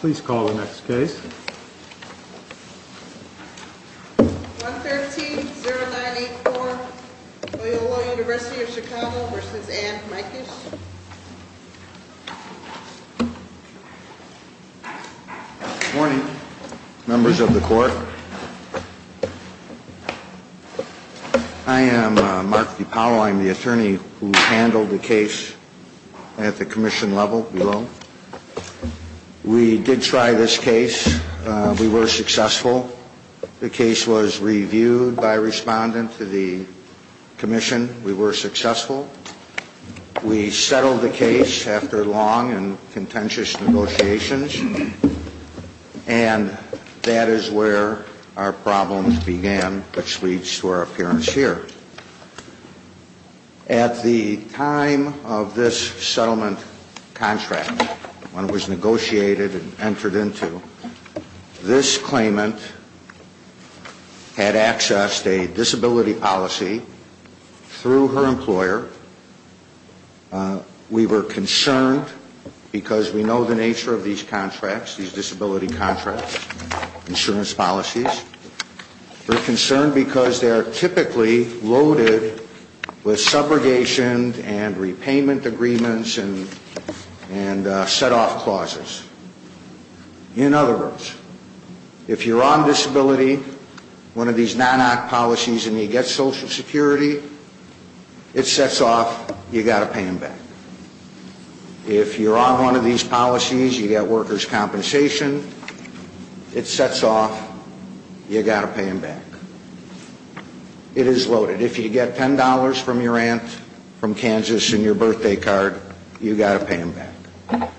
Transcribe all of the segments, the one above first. Please call the next case. 113-0984, Loyola University of Chicago v. Ann Mikesh. Morning, members of the court. I am Mark DiPaolo. I am the attorney who handled the case at the commission level below. We did try this case. We were successful. The case was reviewed by a respondent to the commission. We were successful. We settled the case after long and contentious negotiations. And that is where our problems began, which leads to our appearance here. At the time of this settlement contract, when it was negotiated and entered into, this claimant had accessed a disability policy through her employer. We were concerned because we know the nature of these contracts, these disability contracts, insurance policies. We're concerned because they are typically loaded with subrogation and repayment agreements and set-off clauses. In other words, if you're on disability, one of these non-act policies, and you get Social Security, it sets off, you've got to pay them back. If you're on one of these policies, you get workers' compensation, it sets off, you've got to pay them back. It is loaded. If you get $10 from your aunt from Kansas in your birthday card, you've got to pay them back.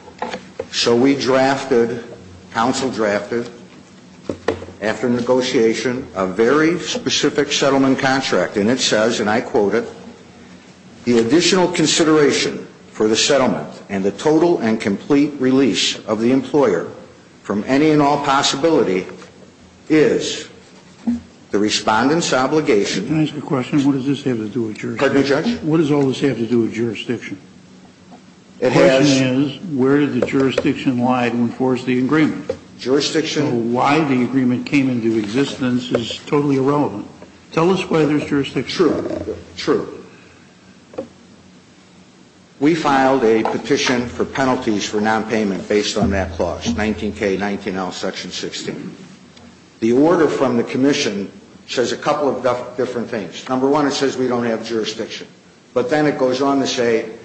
So we drafted, counsel drafted, after negotiation, a very specific settlement contract. And it says, and I quote it, the additional consideration for the settlement and the total and complete release of the employer from any and all possibility is the respondent's obligation. Can I ask a question? What does this have to do with jurisdiction? Pardon me, Judge? What does all this have to do with jurisdiction? The question is, where did the jurisdiction lie to enforce the agreement? Jurisdiction? The question of why the agreement came into existence is totally irrelevant. Tell us why there's jurisdiction. True. True. We filed a petition for penalties for nonpayment based on that clause, 19K, 19L, Section 16. The order from the commission says a couple of different things. Number one, it says we don't have jurisdiction. But then it goes on to say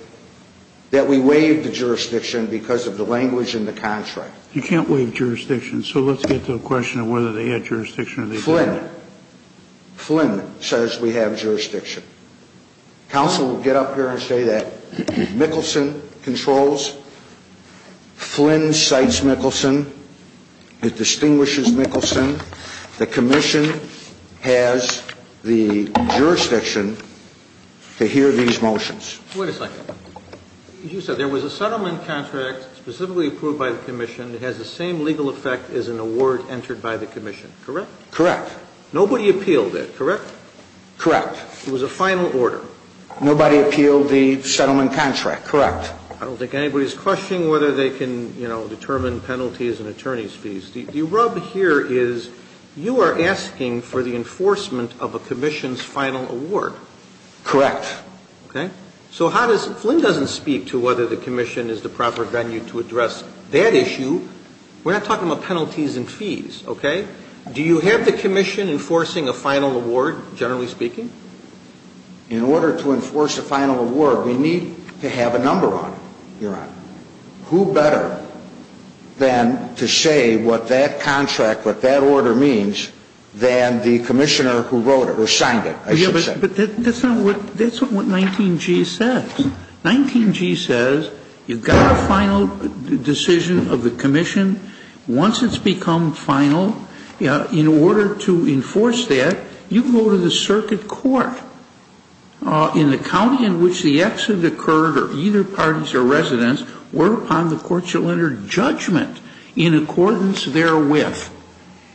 that we waived the jurisdiction because of the language in the contract. You can't waive jurisdiction. So let's get to the question of whether they had jurisdiction or they didn't. Flynn. Flynn says we have jurisdiction. Counsel will get up here and say that Mickelson controls. Flynn cites Mickelson. It distinguishes Mickelson. The commission has the jurisdiction to hear these motions. Wait a second. You said there was a settlement contract specifically approved by the commission that has the same legal effect as an award entered by the commission, correct? Correct. Nobody appealed it, correct? Correct. It was a final order. Nobody appealed the settlement contract, correct. I don't think anybody's questioning whether they can, you know, determine penalties and attorney's fees. The rub here is you are asking for the enforcement of a commission's final award. Correct. Okay. So how does Flynn doesn't speak to whether the commission is the proper venue to address that issue. We're not talking about penalties and fees, okay? Do you have the commission enforcing a final award, generally speaking? In order to enforce a final award, we need to have a number on it, Your Honor. Who better than to say what that contract, what that order means, than the commissioner who wrote it or signed it, I should say. But that's not what 19G says. 19G says you've got a final decision of the commission. Once it's become final, in order to enforce that, you go to the circuit court in the county in which the exit occurred or either parties or residents were upon the court shall enter judgment in accordance therewith.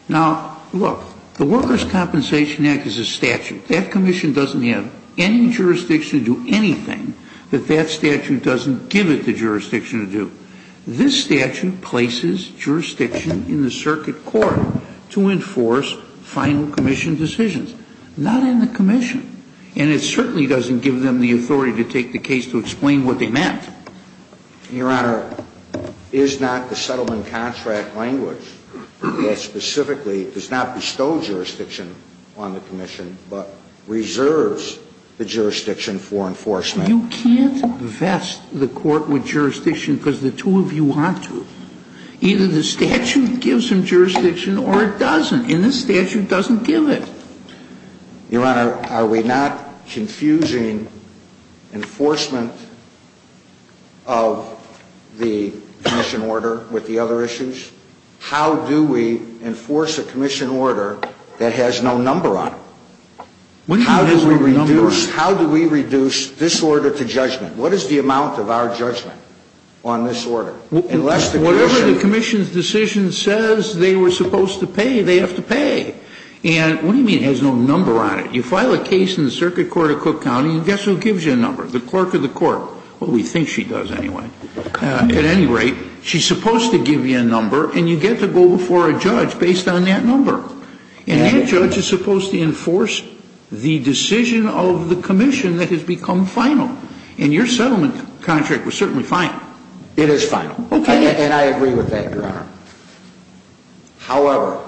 Now, look, the Workers' Compensation Act is a statute. That commission doesn't have any jurisdiction to do anything that that statute doesn't give it the jurisdiction to do. This statute places jurisdiction in the circuit court to enforce final commission decisions. Not in the commission. And it certainly doesn't give them the authority to take the case to explain what they meant. Your Honor, is not the settlement contract language that specifically does not bestow jurisdiction on the commission but reserves the jurisdiction for enforcement? You can't vest the court with jurisdiction because the two of you want to. Either the statute gives them jurisdiction or it doesn't. And the statute doesn't give it. Your Honor, are we not confusing enforcement of the commission order with the other issues? The other issue is how do we enforce a commission order that has no number on it? How do we reduce this order to judgment? What is the amount of our judgment on this order? Unless the commission ---- Whatever the commission's decision says they were supposed to pay, they have to pay. And what do you mean it has no number on it? You file a case in the circuit court of Cook County and guess who gives you a number? The clerk of the court. Well, we think she does anyway. At any rate, she's supposed to give you a number and you get to go before a judge based on that number. And that judge is supposed to enforce the decision of the commission that has become final. And your settlement contract was certainly final. It is final. Okay. And I agree with that, Your Honor. However,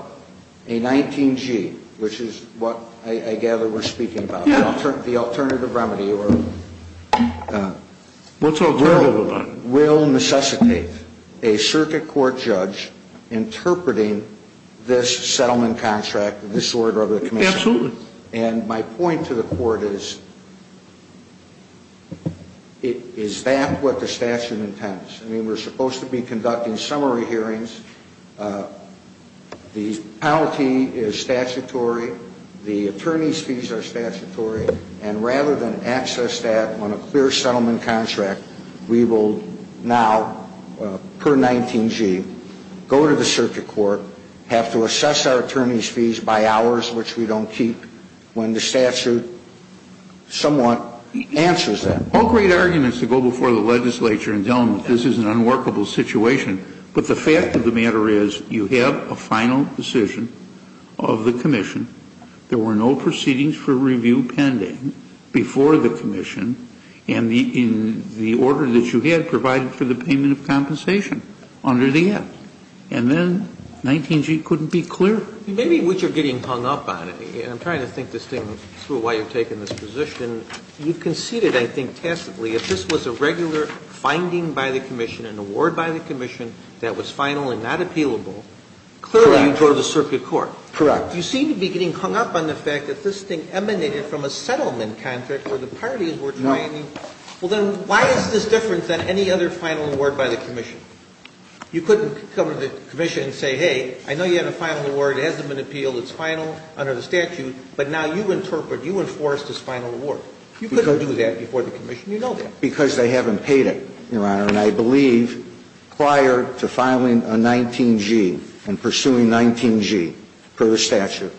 a 19G, which is what I gather we're speaking about, the alternative remedy or ---- What's our alternative remedy? Will necessitate a circuit court judge interpreting this settlement contract, this order of the commission. Absolutely. And my point to the court is, is that what the statute intends? I mean, we're supposed to be conducting summary hearings. The penalty is statutory. The attorney's fees are statutory. And rather than access that on a clear settlement contract, we will now, per 19G, go to the circuit court, have to assess our attorney's fees by hours, which we don't keep, when the statute somewhat answers that. All great arguments to go before the legislature and tell them that this is an unworkable situation. But the fact of the matter is you have a final decision of the commission. There were no proceedings for review pending before the commission. And the order that you had provided for the payment of compensation under the act. And then 19G couldn't be cleared. Maybe what you're getting hung up on, and I'm trying to think this thing through while you're taking this position, you conceded, I think, tacitly, if this was a regular finding by the commission, an award by the commission that was final and not appealable, clearly you go to the circuit court. Correct. You seem to be getting hung up on the fact that this thing emanated from a settlement contract where the parties were trying to. No. Well, then why is this different than any other final award by the commission? You couldn't come to the commission and say, hey, I know you have a final award. It hasn't been appealed. It's final under the statute. But now you interpret, you enforce this final award. You couldn't do that before the commission. You know that. Because they haven't paid it, Your Honor. And I believe prior to filing a 19G and pursuing 19G per the statute,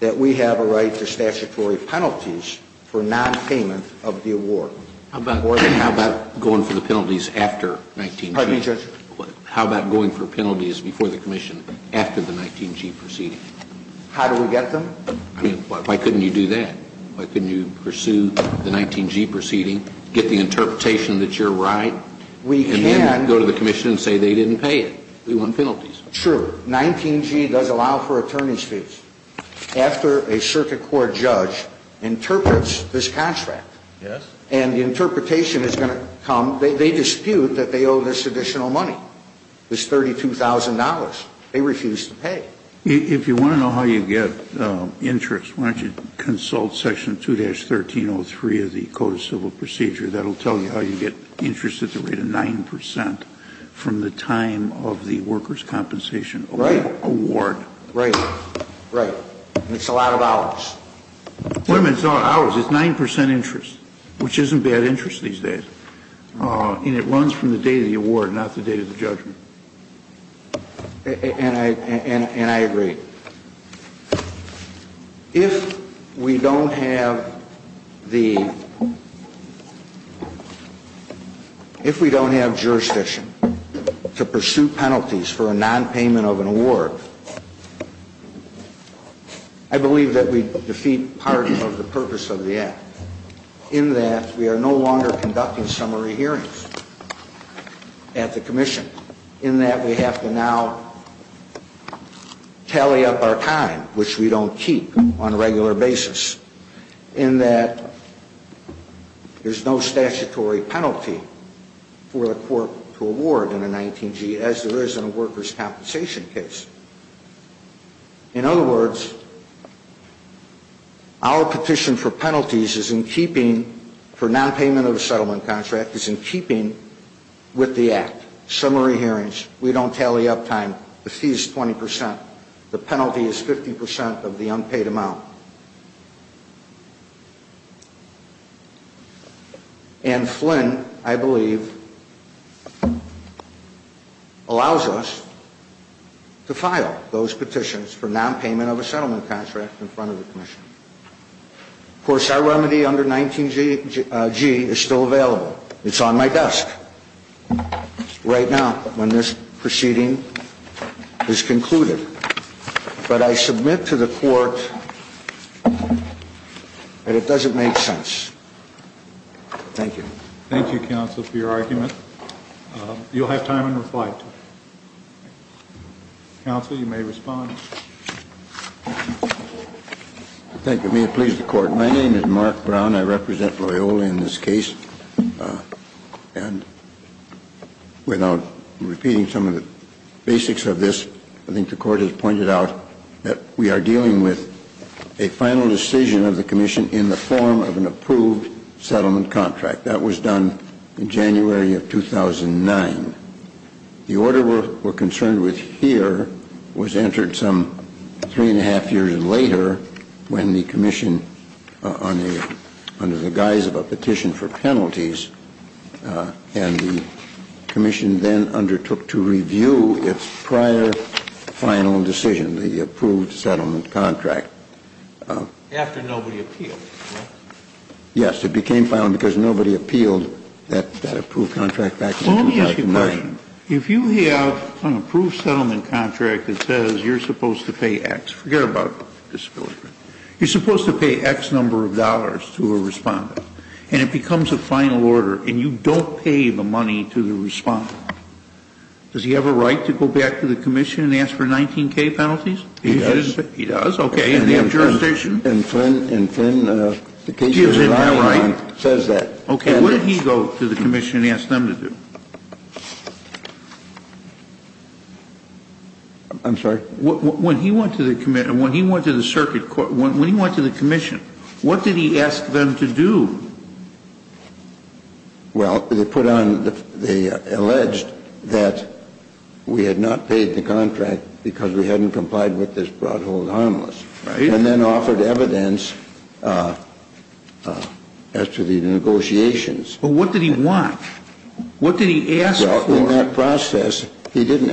that we have a right to statutory penalties for nonpayment of the award. How about going for the penalties after 19G? Pardon me, Judge? How about going for penalties before the commission after the 19G proceeding? How do we get them? I mean, why couldn't you do that? Why couldn't you pursue the 19G proceeding, get the interpretation that you're right, and then go to the commission and say they didn't pay it? We want penalties. True. 19G does allow for attorney's fees. After a circuit court judge interprets this contract and the interpretation is going to come, they dispute that they owe this additional money, this $32,000. They refuse to pay. If you want to know how you get interest, why don't you consult Section 2-1303 of the Code of Civil Procedure. That will tell you how you get interest at the rate of 9 percent from the time of the workers' compensation award. Right. Right. And it's a lot of hours. It's not hours. It's 9 percent interest, which isn't bad interest these days. And it runs from the date of the award, not the date of the judgment. And I agree. If we don't have the, if we don't have jurisdiction to pursue penalties for a nonpayment of an award, I believe that we defeat part of the purpose of the act, in that we are no longer conducting summary hearings at the commission, in that we have to now tally up our time, which we don't keep on a regular basis, in that there's no statutory penalty for the court to award in a 19G, as there is in a workers' compensation case. In other words, our petition for penalties is in keeping, for nonpayment of a summary hearings. We don't tally up time. The fee is 20 percent. The penalty is 50 percent of the unpaid amount. And Flynn, I believe, allows us to file those petitions for nonpayment of a settlement contract in front of the commission. Of course, our remedy under 19G is still available. It's on my desk. Right now, when this proceeding is concluded. But I submit to the court that it doesn't make sense. Thank you. Thank you, counsel, for your argument. You'll have time in reply. Counsel, you may respond. Thank you. May it please the court. My name is Mark Brown. I represent Loyola in this case. And without repeating some of the basics of this, I think the court has pointed out that we are dealing with a final decision of the commission in the form of an approved settlement contract. That was done in January of 2009. The order we're concerned with here was entered some three and a half years later when the commission, under the guise of a petition for penalties, and the commission then undertook to review its prior final decision, the approved settlement contract. After nobody appealed, right? Yes. It became final because nobody appealed that approved contract back in 2009. Let me ask you a question. If you have an approved settlement contract that says you're supposed to pay X, forget about disability benefits, you're supposed to pay X number of dollars to a respondent, and it becomes a final order and you don't pay the money to the respondent, does he have a right to go back to the commission and ask for 19K penalties? He does. He does. Okay. And they have jurisdiction. And Flynn says that. Okay. What did he go to the commission and ask them to do? I'm sorry? When he went to the commission, when he went to the circuit court, when he went to the commission, what did he ask them to do? Well, they put on, they alleged that we had not paid the contract because we hadn't complied with this broad hold harmless. Right. And then offered evidence as to the negotiations. But what did he want? What did he ask for? Well, in that process, he didn't,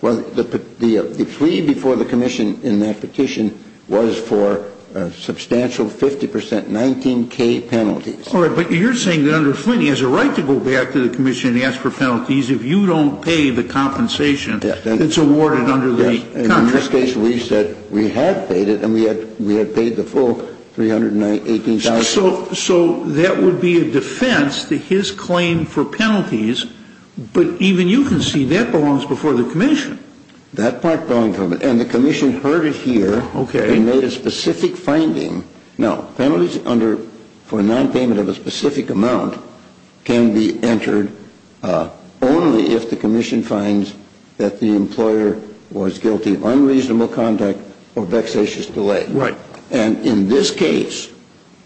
the plea before the commission in that petition was for a substantial 50%, 19K penalties. All right. But you're saying that under Flynn he has a right to go back to the commission and ask for penalties if you don't pay the compensation that's awarded under the contract. Yes. And in this case we said we had paid it and we had paid the full 318,000. So that would be a defense to his claim for penalties. But even you can see that belongs before the commission. That part belongs to the commission. And the commission heard it here. Okay. And made a specific finding. Now, penalties under, for a nonpayment of a specific amount, can be entered only if the commission finds that the employer was guilty of unreasonable conduct or vexatious delay. Right. And in this case,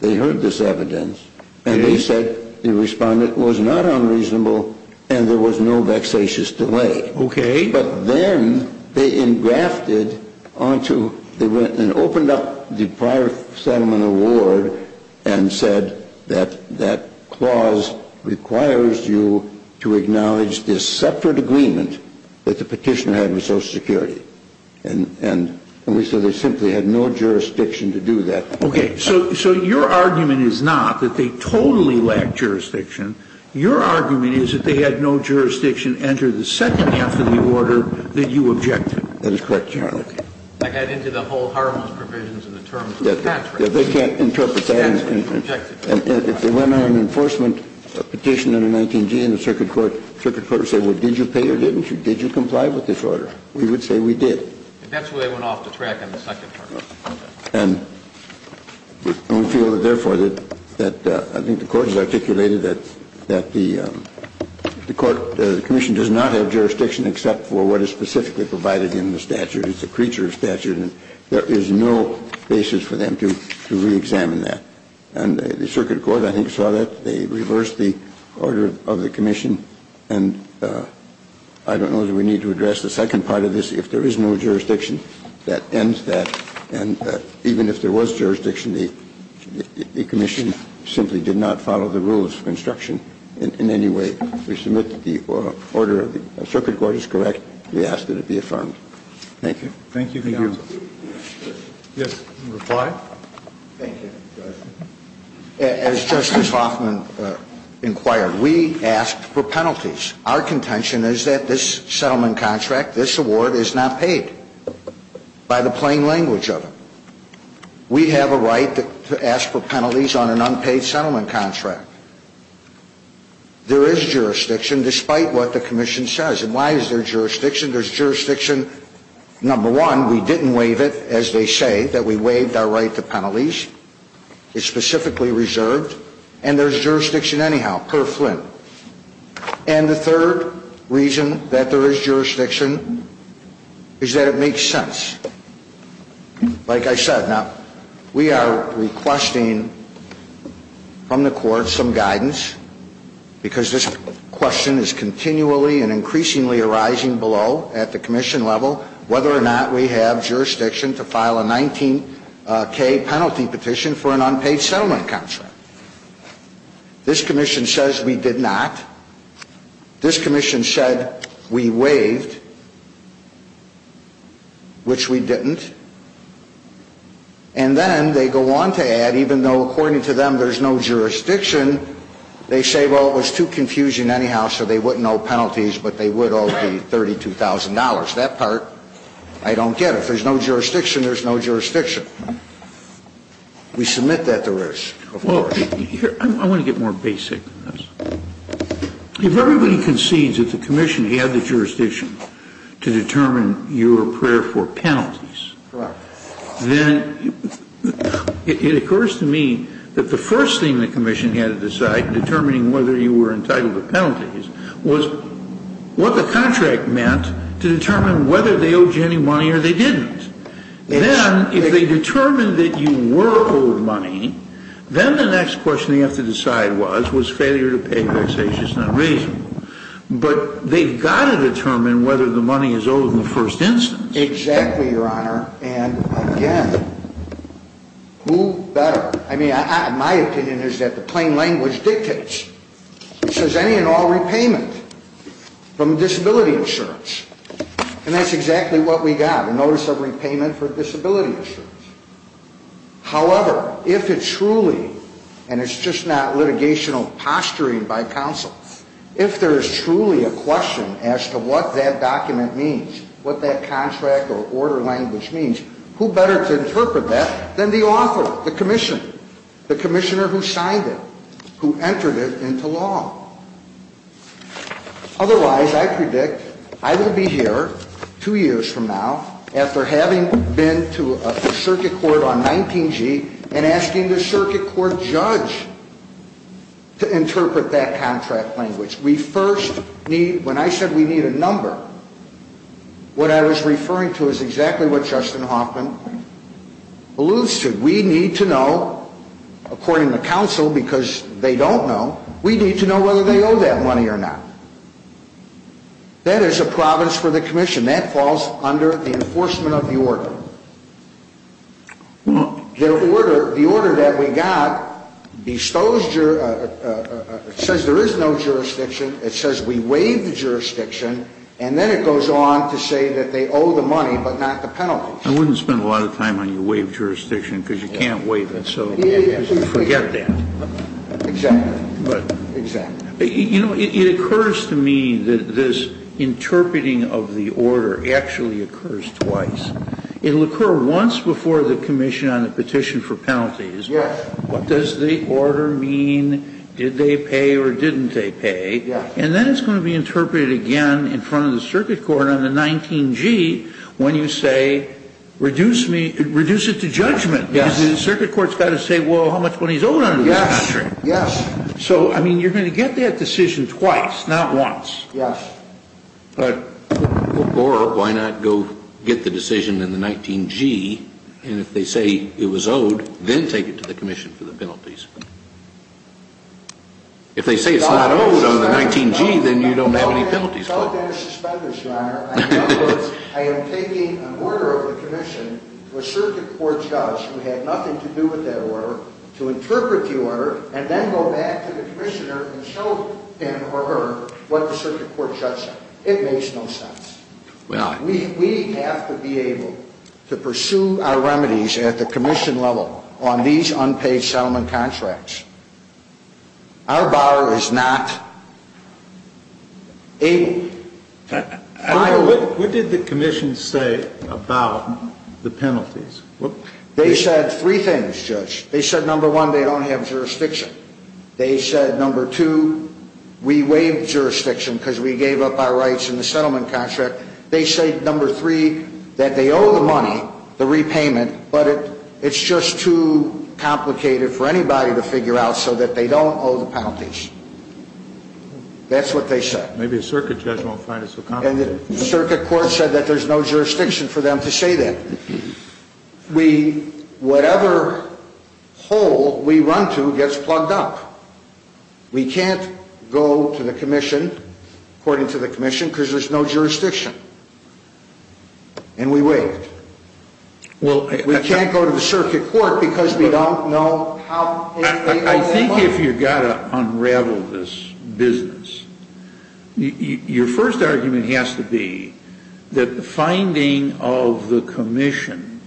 they heard this evidence. Okay. And they said the respondent was not unreasonable and there was no vexatious delay. Okay. But then they engrafted onto, they went and opened up the prior settlement award and said that that clause requires you to acknowledge this separate agreement that the petitioner had with Social Security. And we said they simply had no jurisdiction to do that. Okay. So your argument is not that they totally lacked jurisdiction. Your argument is that they had no jurisdiction under the second half of the order that you objected. That is correct, Your Honor. Okay. I got into the whole hormones provisions and the terms of the contract. They can't interpret that. And if they went on an enforcement petition under 19G and the circuit court said, well, did you pay or didn't you? Did you comply with this order? We would say we did. And that's where they went off the track on the second part. Okay. And we feel that, therefore, that I think the Court has articulated that the Court commission does not have jurisdiction except for what is specifically provided in the statute. It's a creature of statute. And there is no basis for them to reexamine that. And the circuit court, I think, saw that. They reversed the order of the commission. And I don't know that we need to address the second part of this. If there is no jurisdiction, that ends that. And even if there was jurisdiction, the commission simply did not follow the rules of construction in any way. We submit that the order of the circuit court is correct. We ask that it be affirmed. Thank you. Thank you, Your Honor. Yes, reply. Thank you. As Justice Hoffman inquired, we asked for penalties. Our contention is that this settlement contract, this award, is not paid, by the plain language of it. We have a right to ask for penalties on an unpaid settlement contract. There is jurisdiction, despite what the commission says. And why is there jurisdiction? There's jurisdiction, number one, we didn't waive it, as they say, that we waived our right to penalties. It's specifically reserved. And there's jurisdiction anyhow, per Flint. And the third reason that there is jurisdiction is that it makes sense. Like I said, now, we are requesting from the court some guidance, because this question is continually and increasingly arising below at the commission level, whether or not we have jurisdiction to file a 19K penalty petition for an unpaid settlement contract. This commission says we did not. This commission said we waived, which we didn't. And then they go on to add, even though, according to them, there's no jurisdiction, they say, well, it was too confusing anyhow, so they wouldn't owe penalties, but they would owe the $32,000. That part I don't get. If there's no jurisdiction, there's no jurisdiction. We submit that there is, of course. Kennedy, I want to get more basic than this. If everybody concedes that the commission had the jurisdiction to determine your prayer for penalties, then it occurs to me that the first thing the commission had to decide in determining whether you were entitled to penalties was what the contract meant to determine whether they owed you any money or they didn't. Then, if they determined that you were owed money, then the next question they have to decide was, was failure to pay vexatious not reasonable. But they've got to determine whether the money is owed in the first instance. Exactly, Your Honor. And, again, who better? I mean, my opinion is that the plain language dictates. It says any and all repayment from disability insurance. And that's exactly what we got, a notice of repayment for disability insurance. However, if it truly, and it's just not litigational posturing by counsel, if there is truly a question as to what that document means, what that contract or order language means, who better to interpret that than the author, the commissioner, the commissioner who signed it, who entered it into law? Otherwise, I predict I will be here two years from now after having been to a circuit court on 19G and asking the circuit court judge to interpret that contract language. We first need, when I said we need a number, what I was referring to is exactly what Justin Hoffman alludes to. We need to know, according to counsel, because they don't know, we need to know whether they owe that money or not. That is a province for the commission. That falls under the enforcement of the order. The order that we got bestows, it says there is no jurisdiction. It says we waive the jurisdiction. And then it goes on to say that they owe the money but not the penalties. I wouldn't spend a lot of time on your waive jurisdiction because you can't waive it. Forget that. Exactly. You know, it occurs to me that this interpreting of the order actually occurs twice. It will occur once before the commission on the petition for penalties. What does the order mean? Did they pay or didn't they pay? And then it's going to be interpreted again in front of the circuit court on the 19G when you say reduce it to judgment. Because the circuit court has got to say, well, how much money is owed under this contract? Yes. So, I mean, you're going to get that decision twice, not once. Yes. Or why not go get the decision in the 19G, and if they say it was owed, then take it to the commission for the penalties. If they say it's not owed on the 19G, then you don't have any penalties. Without any suspenders, Your Honor, I am taking an order of the commission to a circuit court judge who had nothing to do with that order, to interpret the order, and then go back to the commissioner and show him or her what the circuit court judge said. It makes no sense. We have to be able to pursue our remedies at the commission level on these unpaid settlement contracts. Our bar is not able. What did the commission say about the penalties? They said three things, Judge. They said, number one, they don't have jurisdiction. They said, number two, we waived jurisdiction because we gave up our rights in the settlement contract. They said, number three, that they owe the money, the repayment, but it's just too complicated for anybody to figure out so that they don't owe the penalties. That's what they said. Maybe a circuit judge won't find it so complicated. And the circuit court said that there's no jurisdiction for them to say that. Whatever hole we run to gets plugged up. We can't go to the commission, according to the commission, because there's no jurisdiction. And we waived. We can't go to the circuit court because we don't know how they owe the money. Unravel this business. Your first argument has to be that the finding of the commission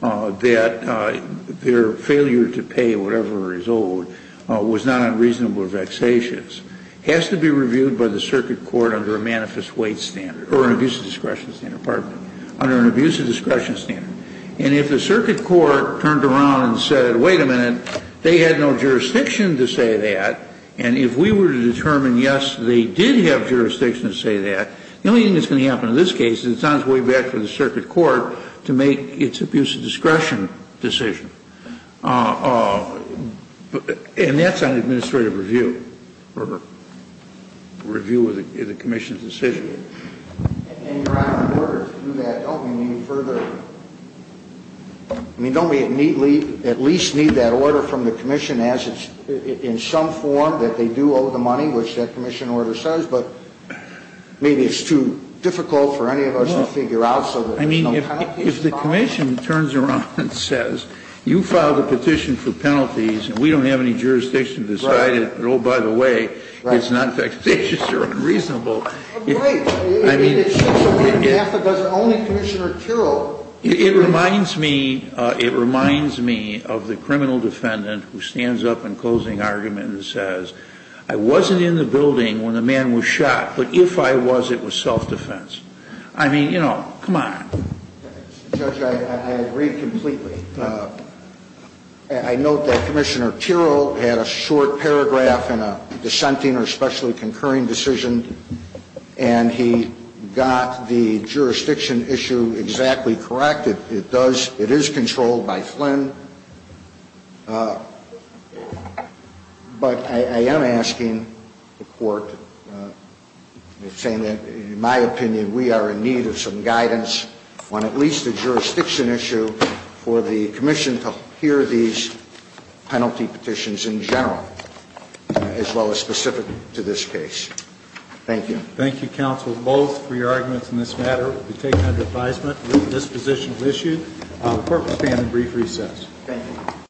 that their failure to pay whatever is owed was not unreasonable or vexatious, has to be reviewed by the circuit court under a manifest weight standard or an abuse of discretion standard. Pardon me. Under an abuse of discretion standard. And if the circuit court turned around and said, wait a minute, they had no jurisdiction to say that, and if we were to determine, yes, they did have jurisdiction to say that, the only thing that's going to happen in this case is it's on its way back to the circuit court to make its abuse of discretion decision. And that's an administrative review or review of the commission's decision. And your Honor, in order to do that, don't we need further, I mean, don't we at least need that order from the commission as it's in some form that they do owe the money, which that commission order says, but maybe it's too difficult for any of us to figure out. I mean, if the commission turns around and says, you filed a petition for penalties, and we don't have any jurisdiction to decide it, and oh, by the way, it's not vexatious or unreasonable. So, I mean, it reminds me, it reminds me of the criminal defendant who stands up in closing argument and says, I wasn't in the building when the man was shot, but if I was, it was self-defense. I mean, you know, come on. Judge, I agree completely. I note that Commissioner Terrell had a short paragraph in a dissenting or specially concurring decision, and he got the jurisdiction issue exactly correct. It does, it is controlled by Flynn. But I am asking the court, saying that in my opinion, we are in need of some guidance on at least the jurisdiction issue for the commission to hear these penalty petitions in general, as well as specific to this case. Thank you. Thank you, counsel, both for your arguments in this matter. We take it under advisement that this position is issued. The court will stand in brief recess.